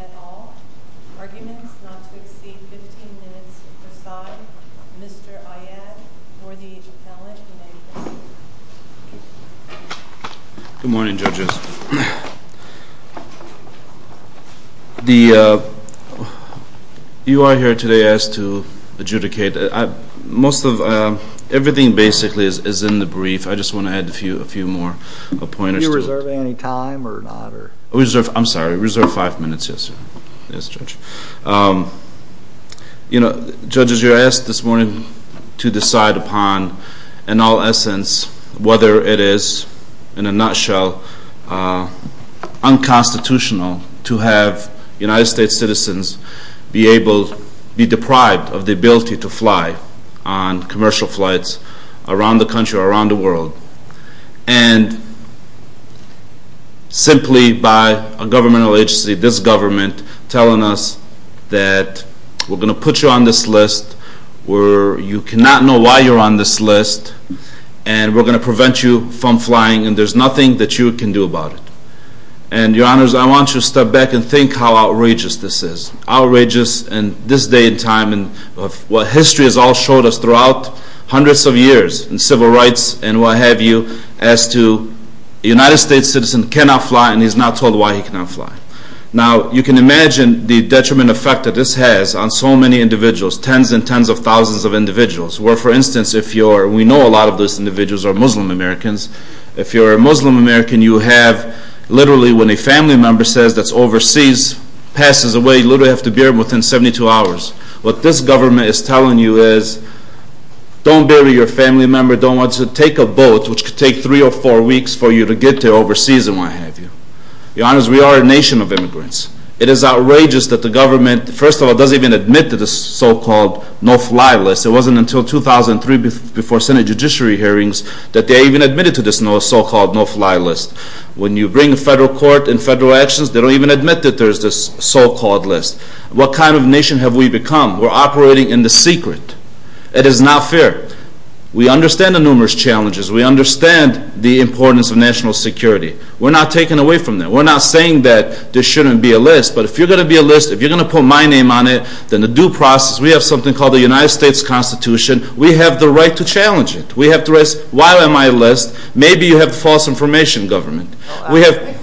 at all. Arguments not to exceed 15 minutes preside. Mr. Iyad, Northeast Appellant, United States. Good morning judges. You are here today asked to adjudicate. Everything basically is in the brief. I just want to add a few more pointers. Are you reserving any time or not? Whether it is, in a nutshell, unconstitutional to have United States citizens be deprived of the ability to fly on commercial flights around the country or around the world. And simply by a governmental agency, this government, telling us that we are going to put you on this list where you cannot know why you are on this list. And we are going to prevent you from flying and there is nothing that you can do about it. And your honors, I want you to step back and think how outrageous this is. Outrageous in this day and time and what history has all showed us throughout hundreds of years in civil rights and what have you as to United States citizens cannot fly and he is not told why he cannot fly. Now you can imagine the detriment effect that this has on so many individuals. Tens and tens of thousands of individuals. For instance, we know a lot of these individuals are Muslim Americans. If you are a Muslim American, you have literally when a family member says that is overseas, passes away, you literally have to bury them within 72 hours. What this government is telling you is don't bury your family member, don't want to take a boat which could take three or four weeks for you to get to overseas and what have you. Your honors, we are a nation of immigrants. It is outrageous that the government, first of all, doesn't even admit to this so-called no fly list. It wasn't until 2003 before Senate Judiciary hearings that they even admitted to this so-called no fly list. When you bring a federal court in federal actions, they don't even admit that there is this so-called list. What kind of nation have we become? We are operating in the secret. It is not fair. We understand the numerous challenges. We understand the importance of national security. We are not taking away from that. We are not saying that there shouldn't be a list, but if you are going to be a list, if you are going to put my name on it, then the due process, we have something called the United States Constitution. We have the right to challenge it. We have the right to say why am I a list? Maybe you have false information government. I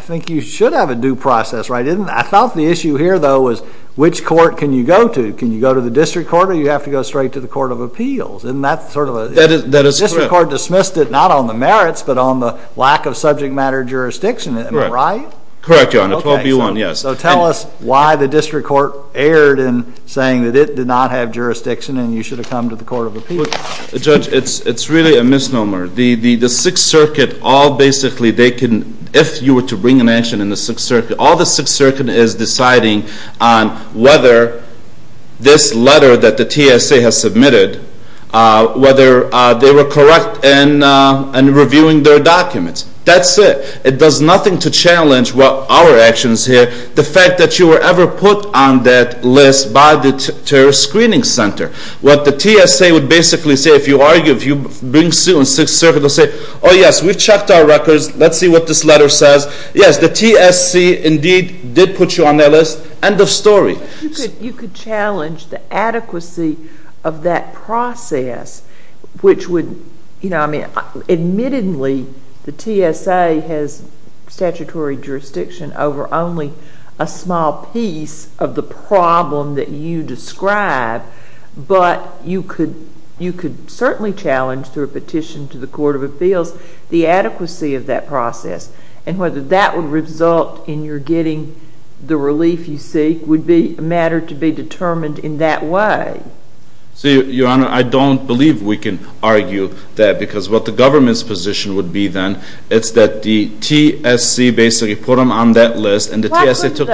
think you should have a due process, right? I thought the issue here, though, was which court can you go to? Can you go to the district court or do you have to go straight to the court of appeals? The district court dismissed it not on the merits, but on the lack of subject matter jurisdiction. Am I right? Correct, your honor. 12B1, yes. Tell us why the district court erred in saying that it did not have jurisdiction and you should have come to the court of appeals. Judge, it's really a misnomer. The Sixth Circuit, if you were to bring an action in the Sixth Circuit, all the Sixth Circuit is deciding on whether this letter that the TSA has submitted, whether they were correct in reviewing their documents. That's it. It does nothing to challenge our actions here. The fact that you were ever put on that list by the screening center. What the TSA would basically say if you bring suit in the Sixth Circuit, they'll say, oh, yes, we've checked our records. Let's see what this letter says. Yes, the TSC indeed did put you on their list. End of story. You could challenge the adequacy of that process, which would, you know, I mean, admittedly, the TSA has statutory jurisdiction over only a small piece of the problem that you describe, but you could certainly challenge through a petition to the court of appeals the adequacy of that process. And whether that would result in your getting the relief you seek would be a matter to be determined in that way. Your Honor, I don't believe we can argue that because what the government's position would be then is that the TSC basically put them on that list and the TSA took them.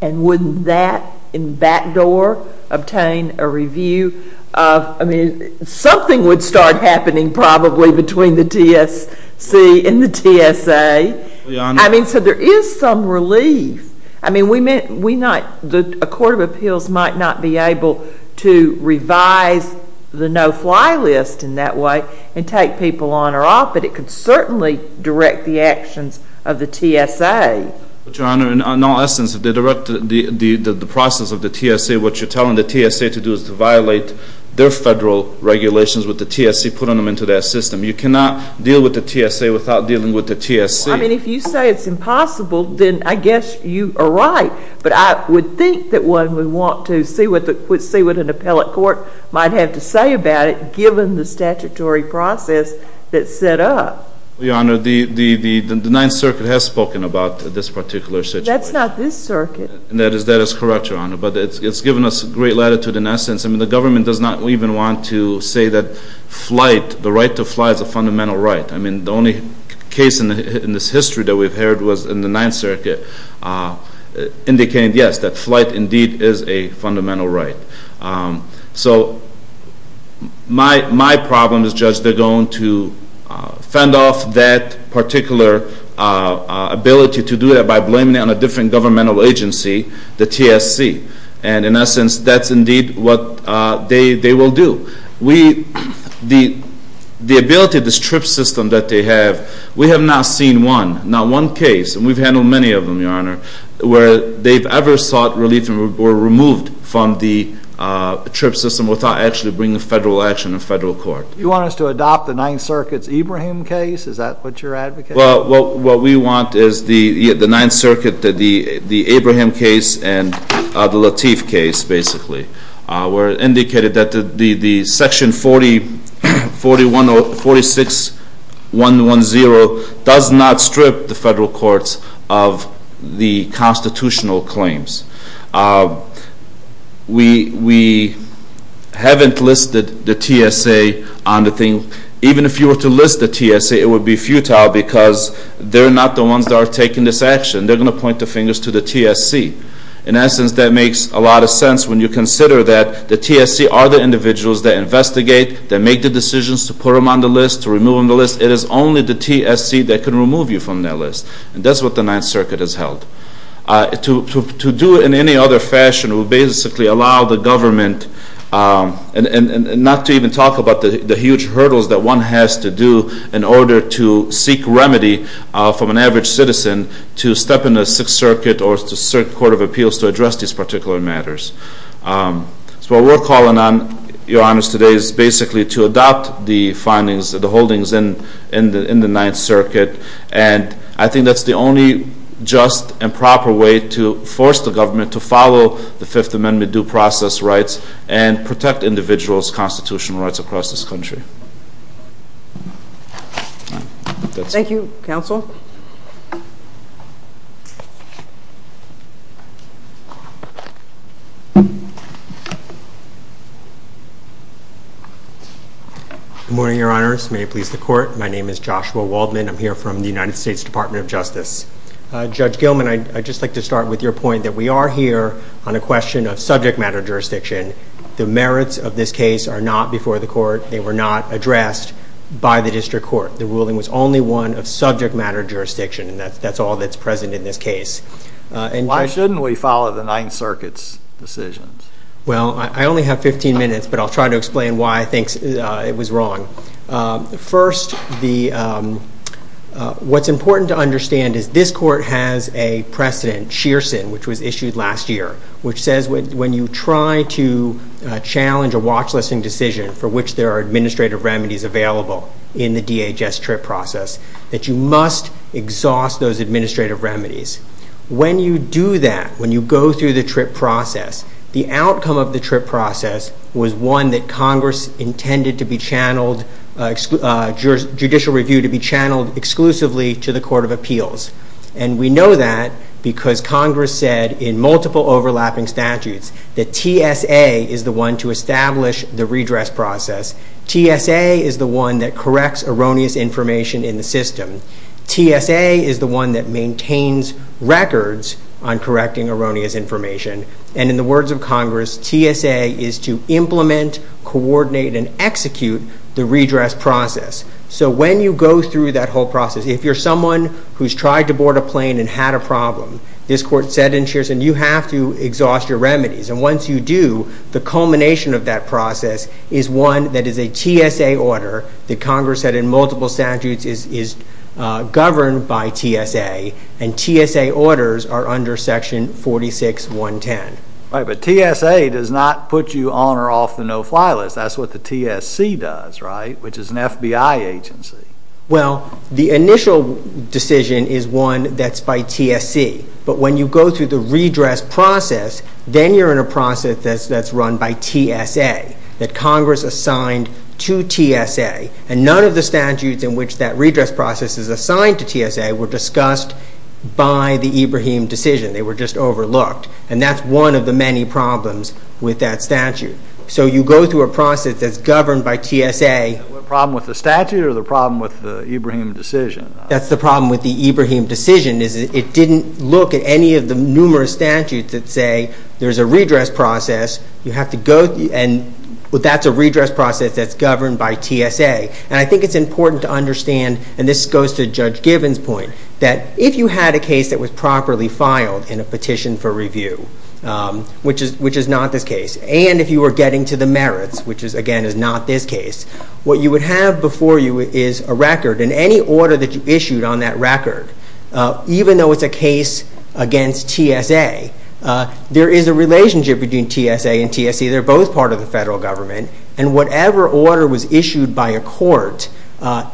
And wouldn't that, in back door, obtain a review of, I mean, something would start happening probably between the TSC and the TSA. Your Honor. I mean, so there is some relief. I mean, we might, a court of appeals might not be able to revise the no-fly list in that way and take people on or off, but it could certainly direct the actions of the TSA. Your Honor, in all essence, if they direct the process of the TSA, what you're telling the TSA to do is to violate their federal regulations with the TSC putting them into that system. You cannot deal with the TSA without dealing with the TSC. I mean, if you say it's impossible, then I guess you are right. But I would think that one would want to see what an appellate court might have to say about it given the statutory process that's set up. Your Honor, the Ninth Circuit has spoken about this particular situation. That's not this circuit. That is correct, Your Honor, but it's given us great latitude in essence. I mean, the government does not even want to say that flight, the right to fly is a fundamental right. I mean, the only case in this history that we've heard was in the Ninth Circuit indicating, yes, that flight indeed is a fundamental right. So my problem is, Judge, they're going to fend off that particular ability to do that by blaming it on a different governmental agency, the TSC. And in essence, that's indeed what they will do. The ability of this TRIPS system that they have, we have not seen one, not one case, and we've handled many of them, Your Honor, where they've ever sought relief and were removed from the TRIPS system without actually bringing federal action in federal court. You want us to adopt the Ninth Circuit's Ibrahim case? Is that what you're advocating? Well, what we want is the Ninth Circuit, the Ibrahim case and the Lateef case, basically, where it indicated that the section 46110 does not strip the federal courts of the constitutional claims. We haven't listed the TSA on the thing. Even if you were to list the TSA, it would be futile because they're not the ones that are taking this action. They're going to point the fingers to the TSC. In essence, that makes a lot of sense when you consider that the TSC are the individuals that investigate, that make the decisions to put them on the list, to remove them from the list. It is only the TSC that can remove you from that list. And that's what the Ninth Circuit has held. To do it in any other fashion would basically allow the government, and not to even talk about the huge hurdles that one has to do in order to seek remedy from an average citizen, to step in the Sixth Circuit or the Court of Appeals to address these particular matters. So what we're calling on, Your Honors, today is basically to adopt the findings, the holdings in the Ninth Circuit. And I think that's the only just and proper way to force the government to follow the Fifth Amendment due process rights and protect individuals' constitutional rights across this country. Thank you. Thank you, Counsel. Good morning, Your Honors. May it please the Court. My name is Joshua Waldman. I'm here from the United States Department of Justice. Judge Gilman, I'd just like to start with your point that we are here on a question of subject matter jurisdiction. The merits of this case are not before the Court. They were not addressed by the District Court. The ruling was only one of subject matter jurisdiction, and that's all that's present in this case. Why shouldn't we follow the Ninth Circuit's decisions? Well, I only have 15 minutes, but I'll try to explain why I think it was wrong. First, what's important to understand is this Court has a precedent, Shearson, which was issued last year, which says when you try to challenge a watch-listing decision for which there are administrative remedies available in the DHS TRIP process, that you must exhaust those administrative remedies. When you do that, when you go through the TRIP process, the outcome of the TRIP process was one that Congress intended to be channeled, judicial review to be channeled exclusively to the Court of Appeals. And we know that because Congress said in multiple overlapping statutes that TSA is the one to establish the redress process. TSA is the one that corrects erroneous information in the system. TSA is the one that maintains records on correcting erroneous information. And in the words of Congress, TSA is to implement, coordinate, and execute the redress process. So when you go through that whole process, if you're someone who's tried to board a plane and had a problem, this Court said in Shearson, you have to exhaust your remedies. And once you do, the culmination of that process is one that is a TSA order that Congress said in multiple statutes is governed by TSA. And TSA orders are under section 46.110. Right, but TSA does not put you on or off the no-fly list. That's what the TSC does, right, which is an FBI agency. Well, the initial decision is one that's by TSC. But when you go through the redress process, then you're in a process that's run by TSA, that Congress assigned to TSA. And none of the statutes in which that redress process is assigned to TSA were discussed by the Ibrahim decision. They were just overlooked. And that's one of the many problems with that statute. So you go through a process that's governed by TSA. The problem with the statute or the problem with the Ibrahim decision? That's the problem with the Ibrahim decision is it didn't look at any of the numerous statutes that say there's a redress process. You have to go, and that's a redress process that's governed by TSA. And I think it's important to understand, and this goes to Judge Gibbons' point, that if you had a case that was properly filed in a petition for review, which is not this case, and if you were getting to the merits, which, again, is not this case, what you would have before you is a record, and any order that you issued on that record, even though it's a case against TSA, there is a relationship between TSA and TSC. They're both part of the federal government. And whatever order was issued by a court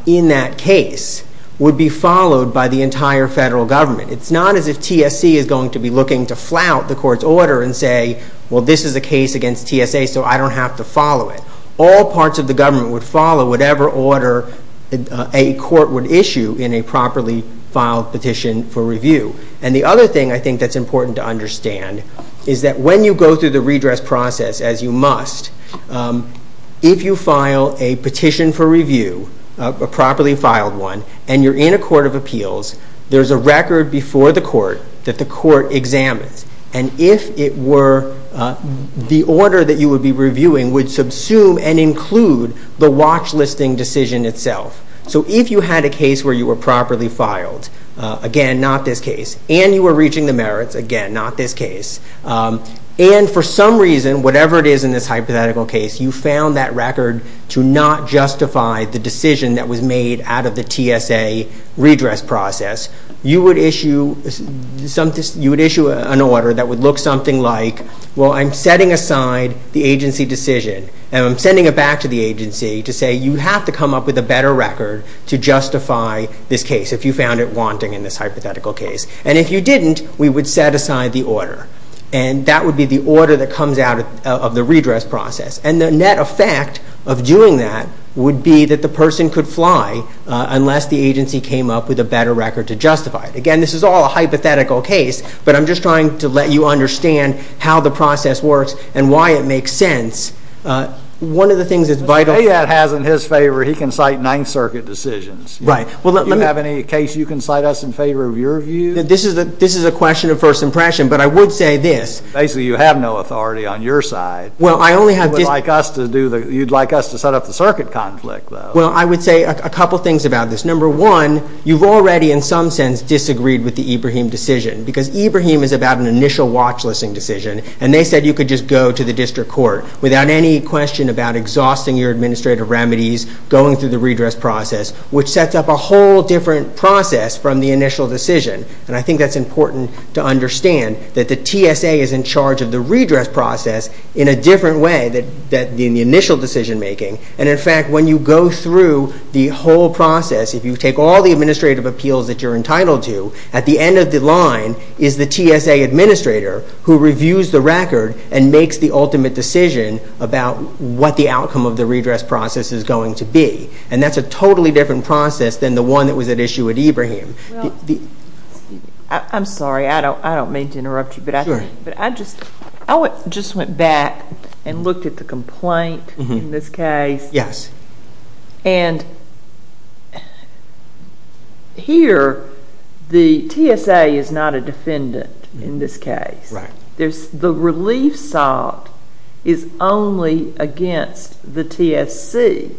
in that case would be followed by the entire federal government. It's not as if TSC is going to be looking to flout the court's order and say, well, this is a case against TSA, so I don't have to follow it. All parts of the government would follow whatever order a court would issue in a properly filed petition for review. And the other thing I think that's important to understand is that when you go through the redress process, as you must, if you file a petition for review, a properly filed one, and you're in a court of appeals, there's a record before the court that the court examines. And if it were, the order that you would be reviewing would subsume and include the watch listing decision itself. So if you had a case where you were properly filed, again, not this case, and you were reaching the merits, again, not this case, and for some reason, whatever it is in this hypothetical case, you found that record to not justify the decision that was made out of the TSA redress process, you would issue an order that would look something like, well, I'm setting aside the agency decision, and I'm sending it back to the agency to say you have to come up with a better record to justify this case, if you found it wanting in this hypothetical case. And if you didn't, we would set aside the order. And that would be the order that comes out of the redress process. And the net effect of doing that would be that the person could fly unless the agency came up with a better record to justify it. Again, this is all a hypothetical case, but I'm just trying to let you understand how the process works and why it makes sense. One of the things that's vital. But if AAD has in his favor, he can cite Ninth Circuit decisions. Right. Do you have any case you can cite us in favor of your view? This is a question of first impression, but I would say this. Basically, you have no authority on your side. You'd like us to set up the circuit conflict, though. Well, I would say a couple things about this. Number one, you've already in some sense disagreed with the Ibrahim decision, because Ibrahim is about an initial watchlisting decision, and they said you could just go to the district court without any question about exhausting your administrative remedies, going through the redress process, which sets up a whole different process from the initial decision. And I think that's important to understand, that the TSA is in charge of the redress process in a different way than in the initial decision making. And, in fact, when you go through the whole process, if you take all the administrative appeals that you're entitled to, at the end of the line is the TSA administrator who reviews the record and makes the ultimate decision about what the outcome of the redress process is going to be. And that's a totally different process than the one that was at issue with Ibrahim. I'm sorry, I don't mean to interrupt you, but I just went back and looked at the complaint in this case. Yes. And here, the TSA is not a defendant in this case. The relief sought is only against the TSC.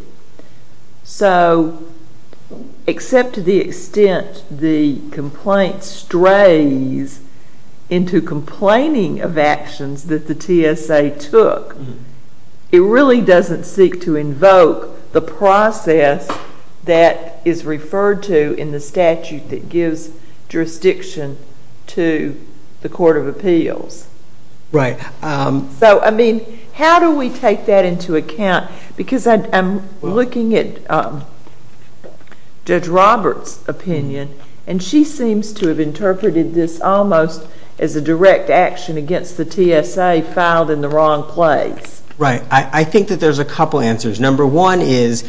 So, except to the extent the complaint strays into complaining of actions that the TSA took, it really doesn't seek to invoke the process that is referred to in the statute that gives jurisdiction to the Court of Appeals. Right. So, I mean, how do we take that into account? And she seems to have interpreted this almost as a direct action against the TSA filed in the wrong place. Right. I think that there's a couple answers. Number one is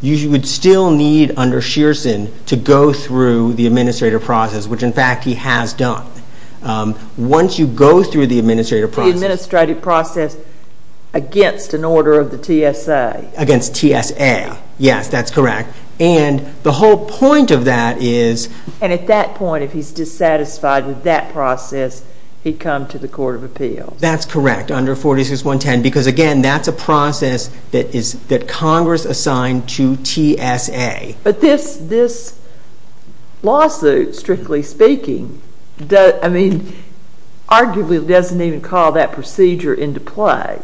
you would still need, under Shearson, to go through the administrative process, which, in fact, he has done. Once you go through the administrative process... The administrative process against an order of the TSA. Against TSA, yes, that's correct. And the whole point of that is... And at that point, if he's dissatisfied with that process, he'd come to the Court of Appeals. That's correct, under 46.110, because, again, that's a process that Congress assigned to TSA. But this lawsuit, strictly speaking, I mean, arguably doesn't even call that procedure into play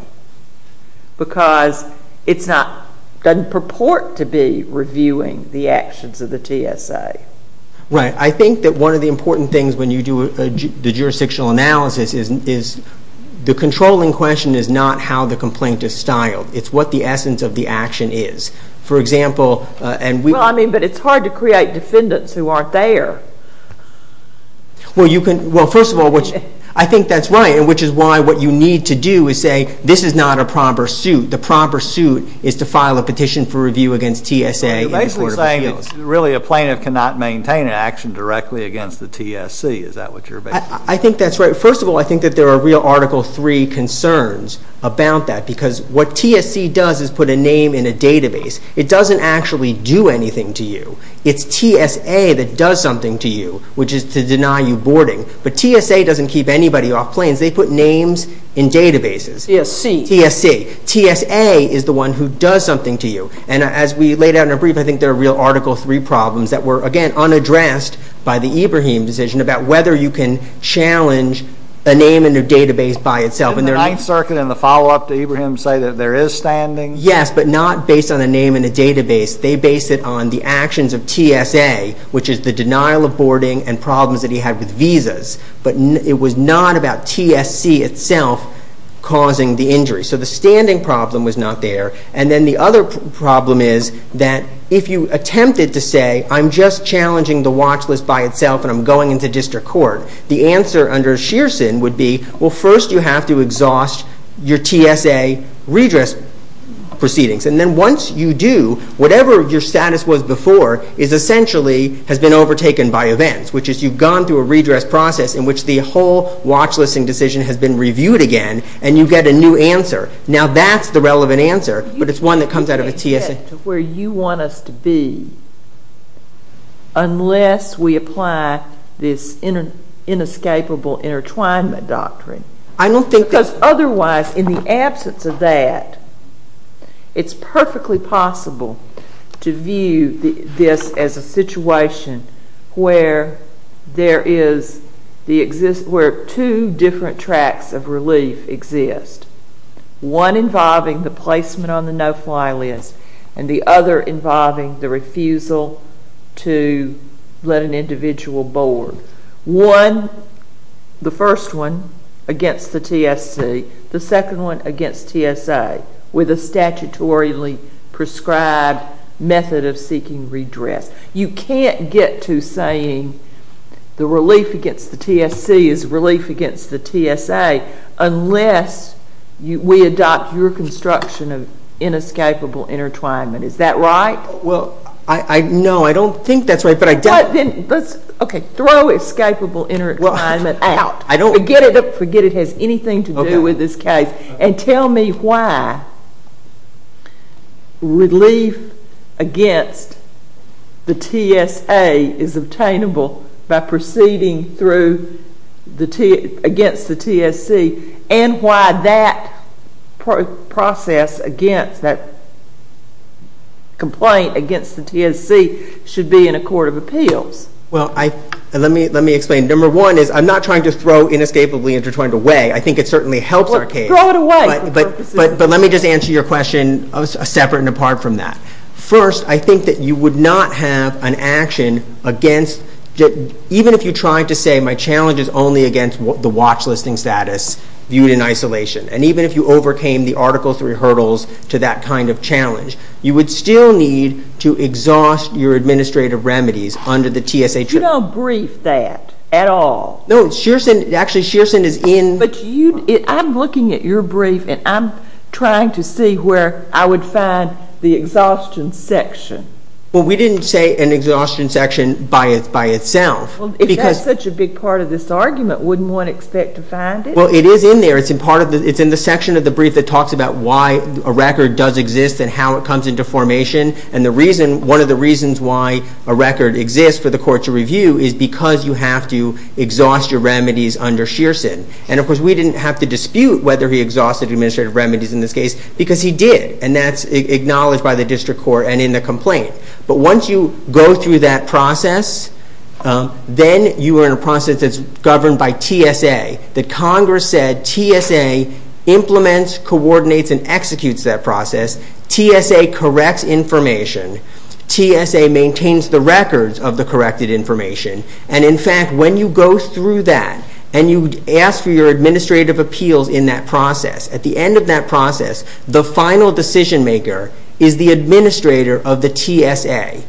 because it doesn't purport to be reviewing the actions of the TSA. Right. I think that one of the important things when you do the jurisdictional analysis is the controlling question is not how the complaint is styled. It's what the essence of the action is. For example, and we... Well, I mean, but it's hard to create defendants who aren't there. Well, you can... Well, first of all, I think that's right, which is why what you need to do is say, this is not a proper suit. The proper suit is to file a petition for review against TSA. So you're basically saying that really a plaintiff cannot maintain an action directly against the TSC. Is that what you're... I think that's right. First of all, I think that there are real Article III concerns about that because what TSC does is put a name in a database. It doesn't actually do anything to you. It's TSA that does something to you, which is to deny you boarding. But TSA doesn't keep anybody off planes. They put names in databases. TSC. TSC. TSA is the one who does something to you. And as we laid out in our brief, I think there are real Article III problems that were, again, unaddressed by the Ibrahim decision about whether you can challenge a name in a database by itself. Didn't the Ninth Circuit in the follow-up to Ibrahim say that there is standing? Yes, but not based on a name in a database. They based it on the actions of TSA, which is the denial of boarding and problems that he had with visas. But it was not about TSC itself causing the injury. So the standing problem was not there. And then the other problem is that if you attempted to say, I'm just challenging the watch list by itself and I'm going into district court, the answer under Shearson would be, well, first you have to exhaust your TSA redress proceedings. And then once you do, whatever your status was before essentially has been overtaken by events, which is you've gone through a redress process in which the whole watch listing decision has been reviewed again and you get a new answer. Now that's the relevant answer, but it's one that comes out of a TSA. You can't get to where you want us to be unless we apply this inescapable intertwinement doctrine. I don't think that... Because otherwise, in the absence of that, it's perfectly possible to view this as a situation where two different tracks of relief exist, one involving the placement on the no-fly list and the other involving the refusal to let an individual board. One, the first one, against the TSC, the second one against TSA with a statutorily prescribed method of seeking redress. You can't get to saying the relief against the TSC is relief against the TSA unless we adopt your construction of inescapable intertwinement. Is that right? Well, no, I don't think that's right, but I don't... Okay, throw escapable intertwinement out. Forget it has anything to do with this case. And tell me why relief against the TSA is obtainable by proceeding against the TSC and why that process against that complaint against the TSC should be in a court of appeals. Well, let me explain. Number one is I'm not trying to throw inescapably intertwined away. I think it certainly helps our case. Well, throw it away for purposes... But let me just answer your question separate and apart from that. First, I think that you would not have an action against... Even if you tried to say my challenge is only against the watch-listing status viewed in isolation, and even if you overcame the Article III hurdles to that kind of challenge, you would still need to exhaust your administrative remedies under the TSA... You don't brief that at all. No, Shearson... Actually, Shearson is in... But I'm looking at your brief, and I'm trying to see where I would find the exhaustion section. Well, we didn't say an exhaustion section by itself. Well, if that's such a big part of this argument, wouldn't one expect to find it? Well, it is in there. It's in the section of the brief that talks about why a record does exist and how it comes into formation. And one of the reasons why a record exists for the court to review is because you have to exhaust your remedies under Shearson. And, of course, we didn't have to dispute whether he exhausted administrative remedies in this case because he did, and that's acknowledged by the district court and in the complaint. But once you go through that process, then you are in a process that's governed by TSA, that Congress said TSA implements, coordinates, and executes that process. TSA corrects information. TSA maintains the records of the corrected information. And, in fact, when you go through that and you ask for your administrative appeals in that process, at the end of that process, the final decision-maker is the administrator of the TSA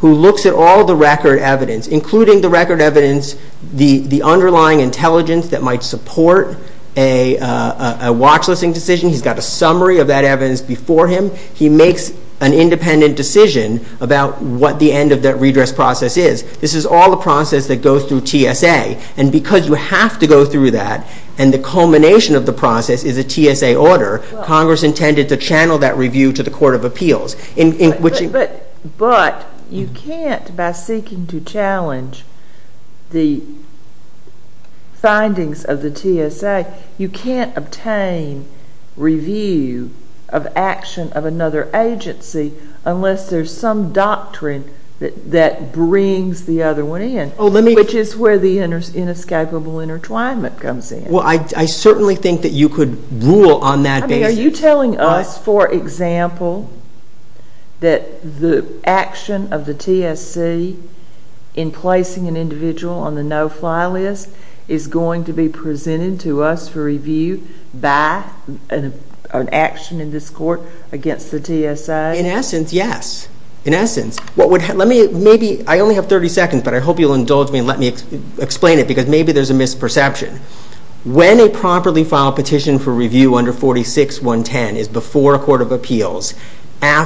who looks at all the record evidence, including the record evidence, the underlying intelligence that might support a watchlisting decision. He's got a summary of that evidence before him. He makes an independent decision about what the end of that redress process is. This is all a process that goes through TSA. And because you have to go through that, and the culmination of the process is a TSA order, Congress intended to channel that review to the court of appeals. But you can't, by seeking to challenge the findings of the TSA, you can't obtain review of action of another agency unless there's some doctrine that brings the other one in, which is where the inescapable intertwinement comes in. Well, I certainly think that you could rule on that basis. Are you telling us, for example, that the action of the TSA in placing an individual on the no-fly list is going to be presented to us for review by an action in this court against the TSA? In essence, yes. In essence. I only have 30 seconds, but I hope you'll indulge me and let me explain it, because maybe there's a misperception. When a properly filed petition for review under 46.110 is before a court of appeals,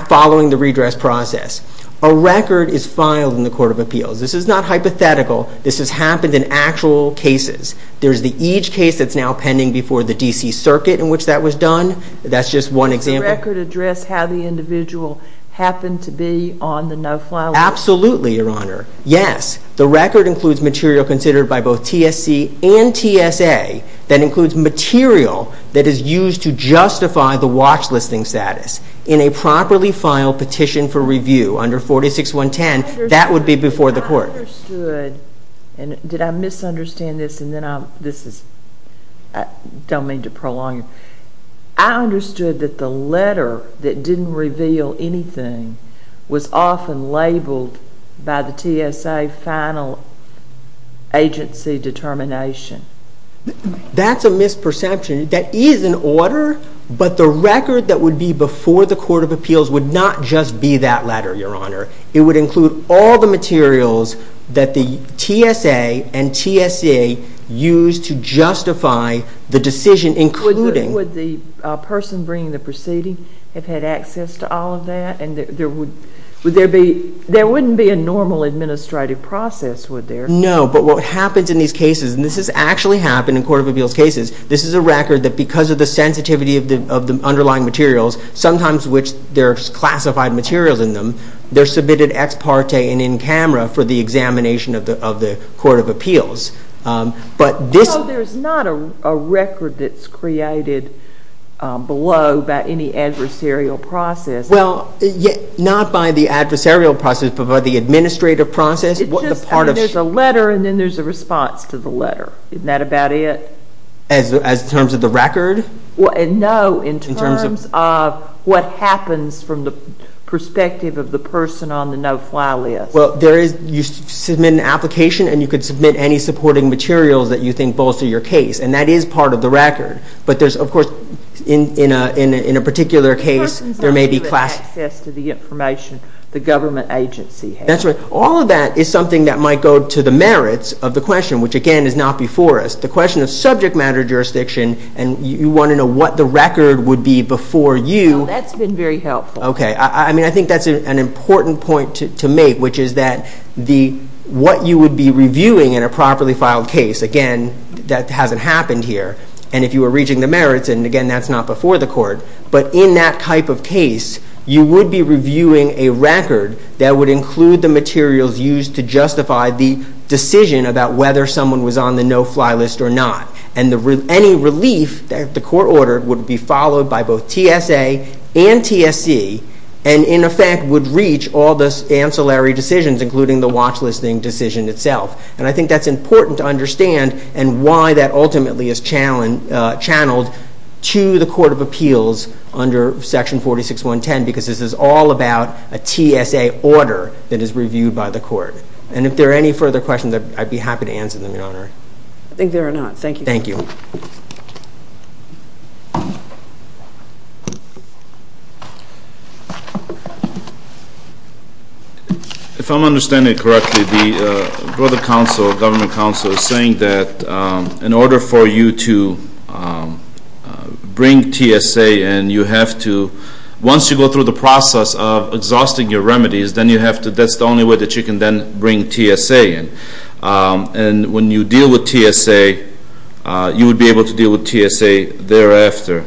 following the redress process, a record is filed in the court of appeals. This is not hypothetical. This has happened in actual cases. There's each case that's now pending before the D.C. Circuit in which that was done. That's just one example. Does the record address how the individual happened to be on the no-fly list? Absolutely, Your Honor. Yes. The record includes material considered by both TSC and TSA that includes material that is used to justify the watch-listing status. In a properly filed petition for review under 46.110, that would be before the court. I understood, and did I misunderstand this? I don't mean to prolong it. I understood that the letter that didn't reveal anything was often labeled by the TSA final agency determination. That's a misperception. That is an order, but the record that would be before the court of appeals would not just be that letter, Your Honor. It would include all the materials that the TSA and TSA used to justify the decision, including... Would the person bringing the proceeding have had access to all of that? There wouldn't be a normal administrative process, would there? No, but what happens in these cases, and this has actually happened in court of appeals cases, this is a record that because of the sensitivity of the underlying materials, sometimes which there are classified materials in them, they're submitted ex parte and in camera for the examination of the court of appeals. There's not a record that's created below by any adversarial process. Well, not by the adversarial process, but by the administrative process. There's a letter and then there's a response to the letter. Isn't that about it? As in terms of the record? No, in terms of what happens from the perspective of the person on the no-fly list. Well, you submit an application and you could submit any supporting materials that you think bolster your case, and that is part of the record. But there's, of course, in a particular case, there may be classified... The person's not given access to the information the government agency has. That's right. All of that is something that might go to the merits of the question, which, again, is not before us. The question of subject matter jurisdiction, and you want to know what the record would be before you... Well, that's been very helpful. Okay. I mean, I think that's an important point to make, which is that what you would be reviewing in a properly filed case, again, that hasn't happened here. And if you were reaching the merits, and, again, that's not before the court, but in that type of case, you would be reviewing a record that would include the materials used to justify the decision about whether someone was on the no-fly list or not. And any relief that the court ordered would be followed by both TSA and TSC and, in effect, would reach all the ancillary decisions, including the watch-listing decision itself. And I think that's important to understand and why that ultimately is channeled to the Court of Appeals under Section 46.110, because this is all about a TSA order that is reviewed by the court. And if there are any further questions, I'd be happy to answer them, Your Honor. I think there are not. Thank you. Thank you. If I'm understanding it correctly, the Board of Counsel, Government Counsel, is saying that in order for you to bring TSA in, you have to, once you go through the process of exhausting your remedies, that's the only way that you can then bring TSA in. And when you deal with TSA, you would be able to deal with TSA thereafter.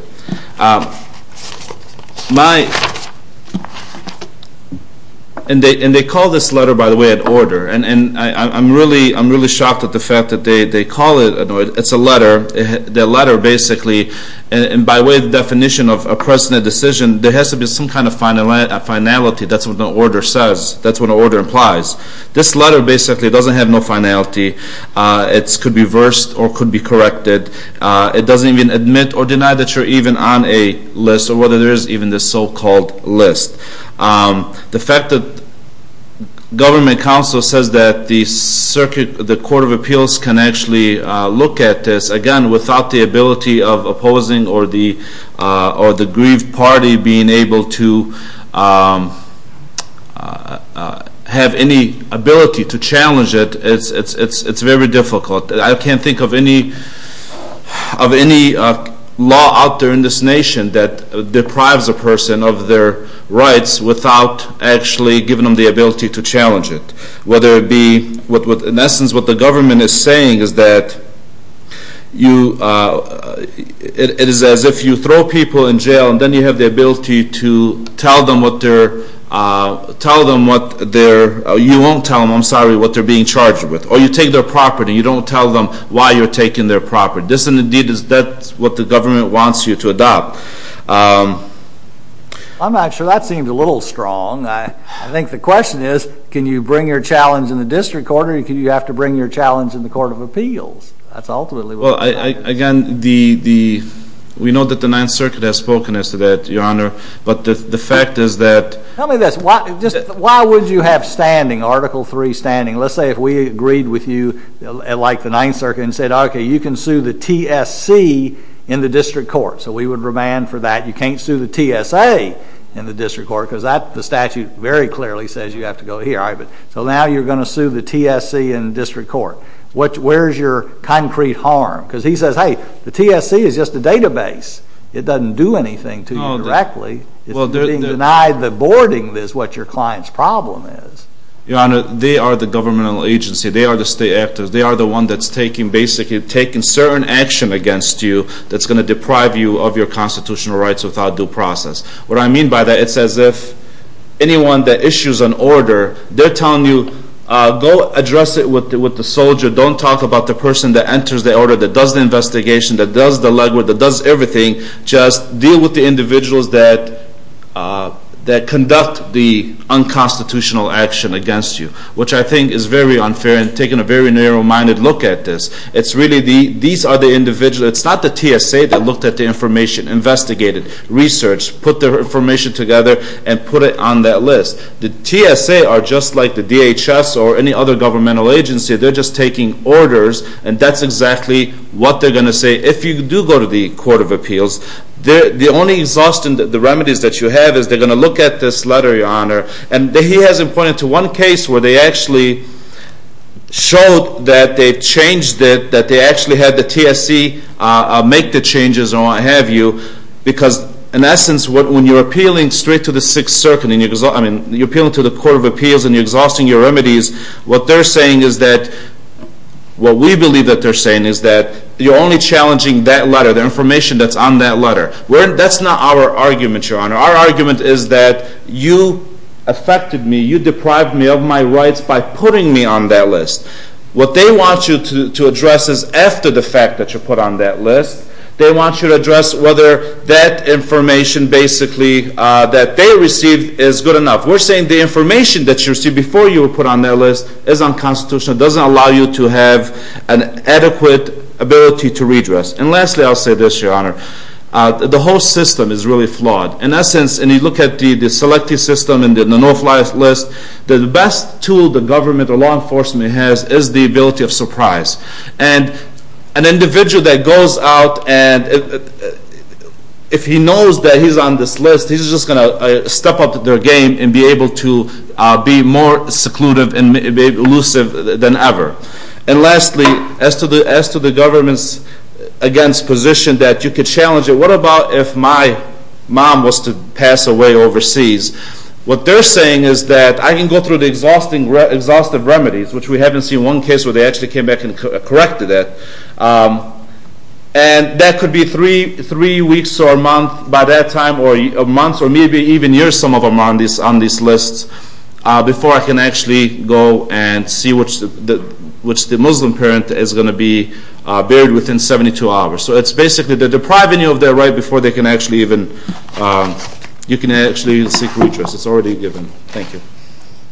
And they call this letter, by the way, an order. And I'm really shocked at the fact that they call it. It's a letter. The letter basically, by way of definition of a precedent decision, there has to be some kind of finality. That's what an order says. That's what an order implies. This letter basically doesn't have no finality. It could be versed or could be corrected. It doesn't even admit or deny that you're even on a list or whether there is even this so-called list. The fact that Government Counsel says that the Court of Appeals can actually look at this, again, without the ability of opposing or the grieved party being able to have any ability to challenge it, it's very difficult. I can't think of any law out there in this nation that deprives a person of their rights without actually giving them the ability to challenge it. In essence, what the government is saying is that it is as if you throw people in jail and then you have the ability to tell them what they're being charged with. Or you take their property. You don't tell them why you're taking their property. This, indeed, is what the government wants you to adopt. I'm not sure that seemed a little strong. I think the question is, can you bring your challenge in the District Court or do you have to bring your challenge in the Court of Appeals? That's ultimately what it is. Again, we know that the Ninth Circuit has spoken as to that, Your Honor, but the fact is that... Tell me this. Why would you have standing, Article III standing? Let's say if we agreed with you, like the Ninth Circuit, and said, okay, you can sue the TSC in the District Court. So we would remand for that. You can't sue the TSA in the District Court because the statute very clearly says you have to go here. So now you're going to sue the TSC in the District Court. Where is your concrete harm? Because he says, hey, the TSC is just a database. It doesn't do anything to you directly. It's being denied the boarding is what your client's problem is. Your Honor, they are the governmental agency. They are the state actors. They are the one that's basically taking certain action against you that's going to deprive you of your constitutional rights without due process. What I mean by that, it's as if anyone that issues an order, they're telling you, go address it with the soldier. Don't talk about the person that enters the order, that does the investigation, that does the legwork, that does everything. Just deal with the individuals that conduct the unconstitutional action against you, which I think is very unfair in taking a very narrow-minded look at this. It's really these are the individuals. It's not the TSA that looked at the information, investigated, researched, put the information together, and put it on that list. The TSA are just like the DHS or any other governmental agency. They're just taking orders, and that's exactly what they're going to say. If you do go to the Court of Appeals, the only exhaustion, the remedies that you have, is they're going to look at this letter, Your Honor. And he hasn't pointed to one case where they actually showed that they changed it, that they actually had the TSA make the changes or what have you, because, in essence, when you're appealing straight to the Sixth Circuit, I mean, you're appealing to the Court of Appeals and you're exhausting your remedies, what they're saying is that, what we believe that they're saying is that, you're only challenging that letter, the information that's on that letter. That's not our argument, Your Honor. Our argument is that you affected me, you deprived me of my rights by putting me on that list. What they want you to address is, after the fact that you're put on that list, they want you to address whether that information, basically, that they received is good enough. We're saying the information that you received before you were put on that list is unconstitutional. It doesn't allow you to have an adequate ability to redress. And lastly, I'll say this, Your Honor. The whole system is really flawed. In essence, and you look at the selective system and the no-fly list, the best tool the government or law enforcement has is the ability of surprise. And an individual that goes out and if he knows that he's on this list, he's just going to step up their game and be able to be more seclusive than ever. And lastly, as to the government's against position that you could challenge it, what about if my mom was to pass away overseas? What they're saying is that I can go through the exhaustive remedies, which we haven't seen one case where they actually came back and corrected that. And that could be three weeks or a month by that time, or a month, or maybe even years some of them are on these lists, before I can actually go and see which the Muslim parent is going to be buried within 72 hours. So it's basically depriving you of that right before you can actually seek redress. It's already given. Thank you.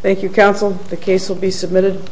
Thank you, counsel. The case will be submitted.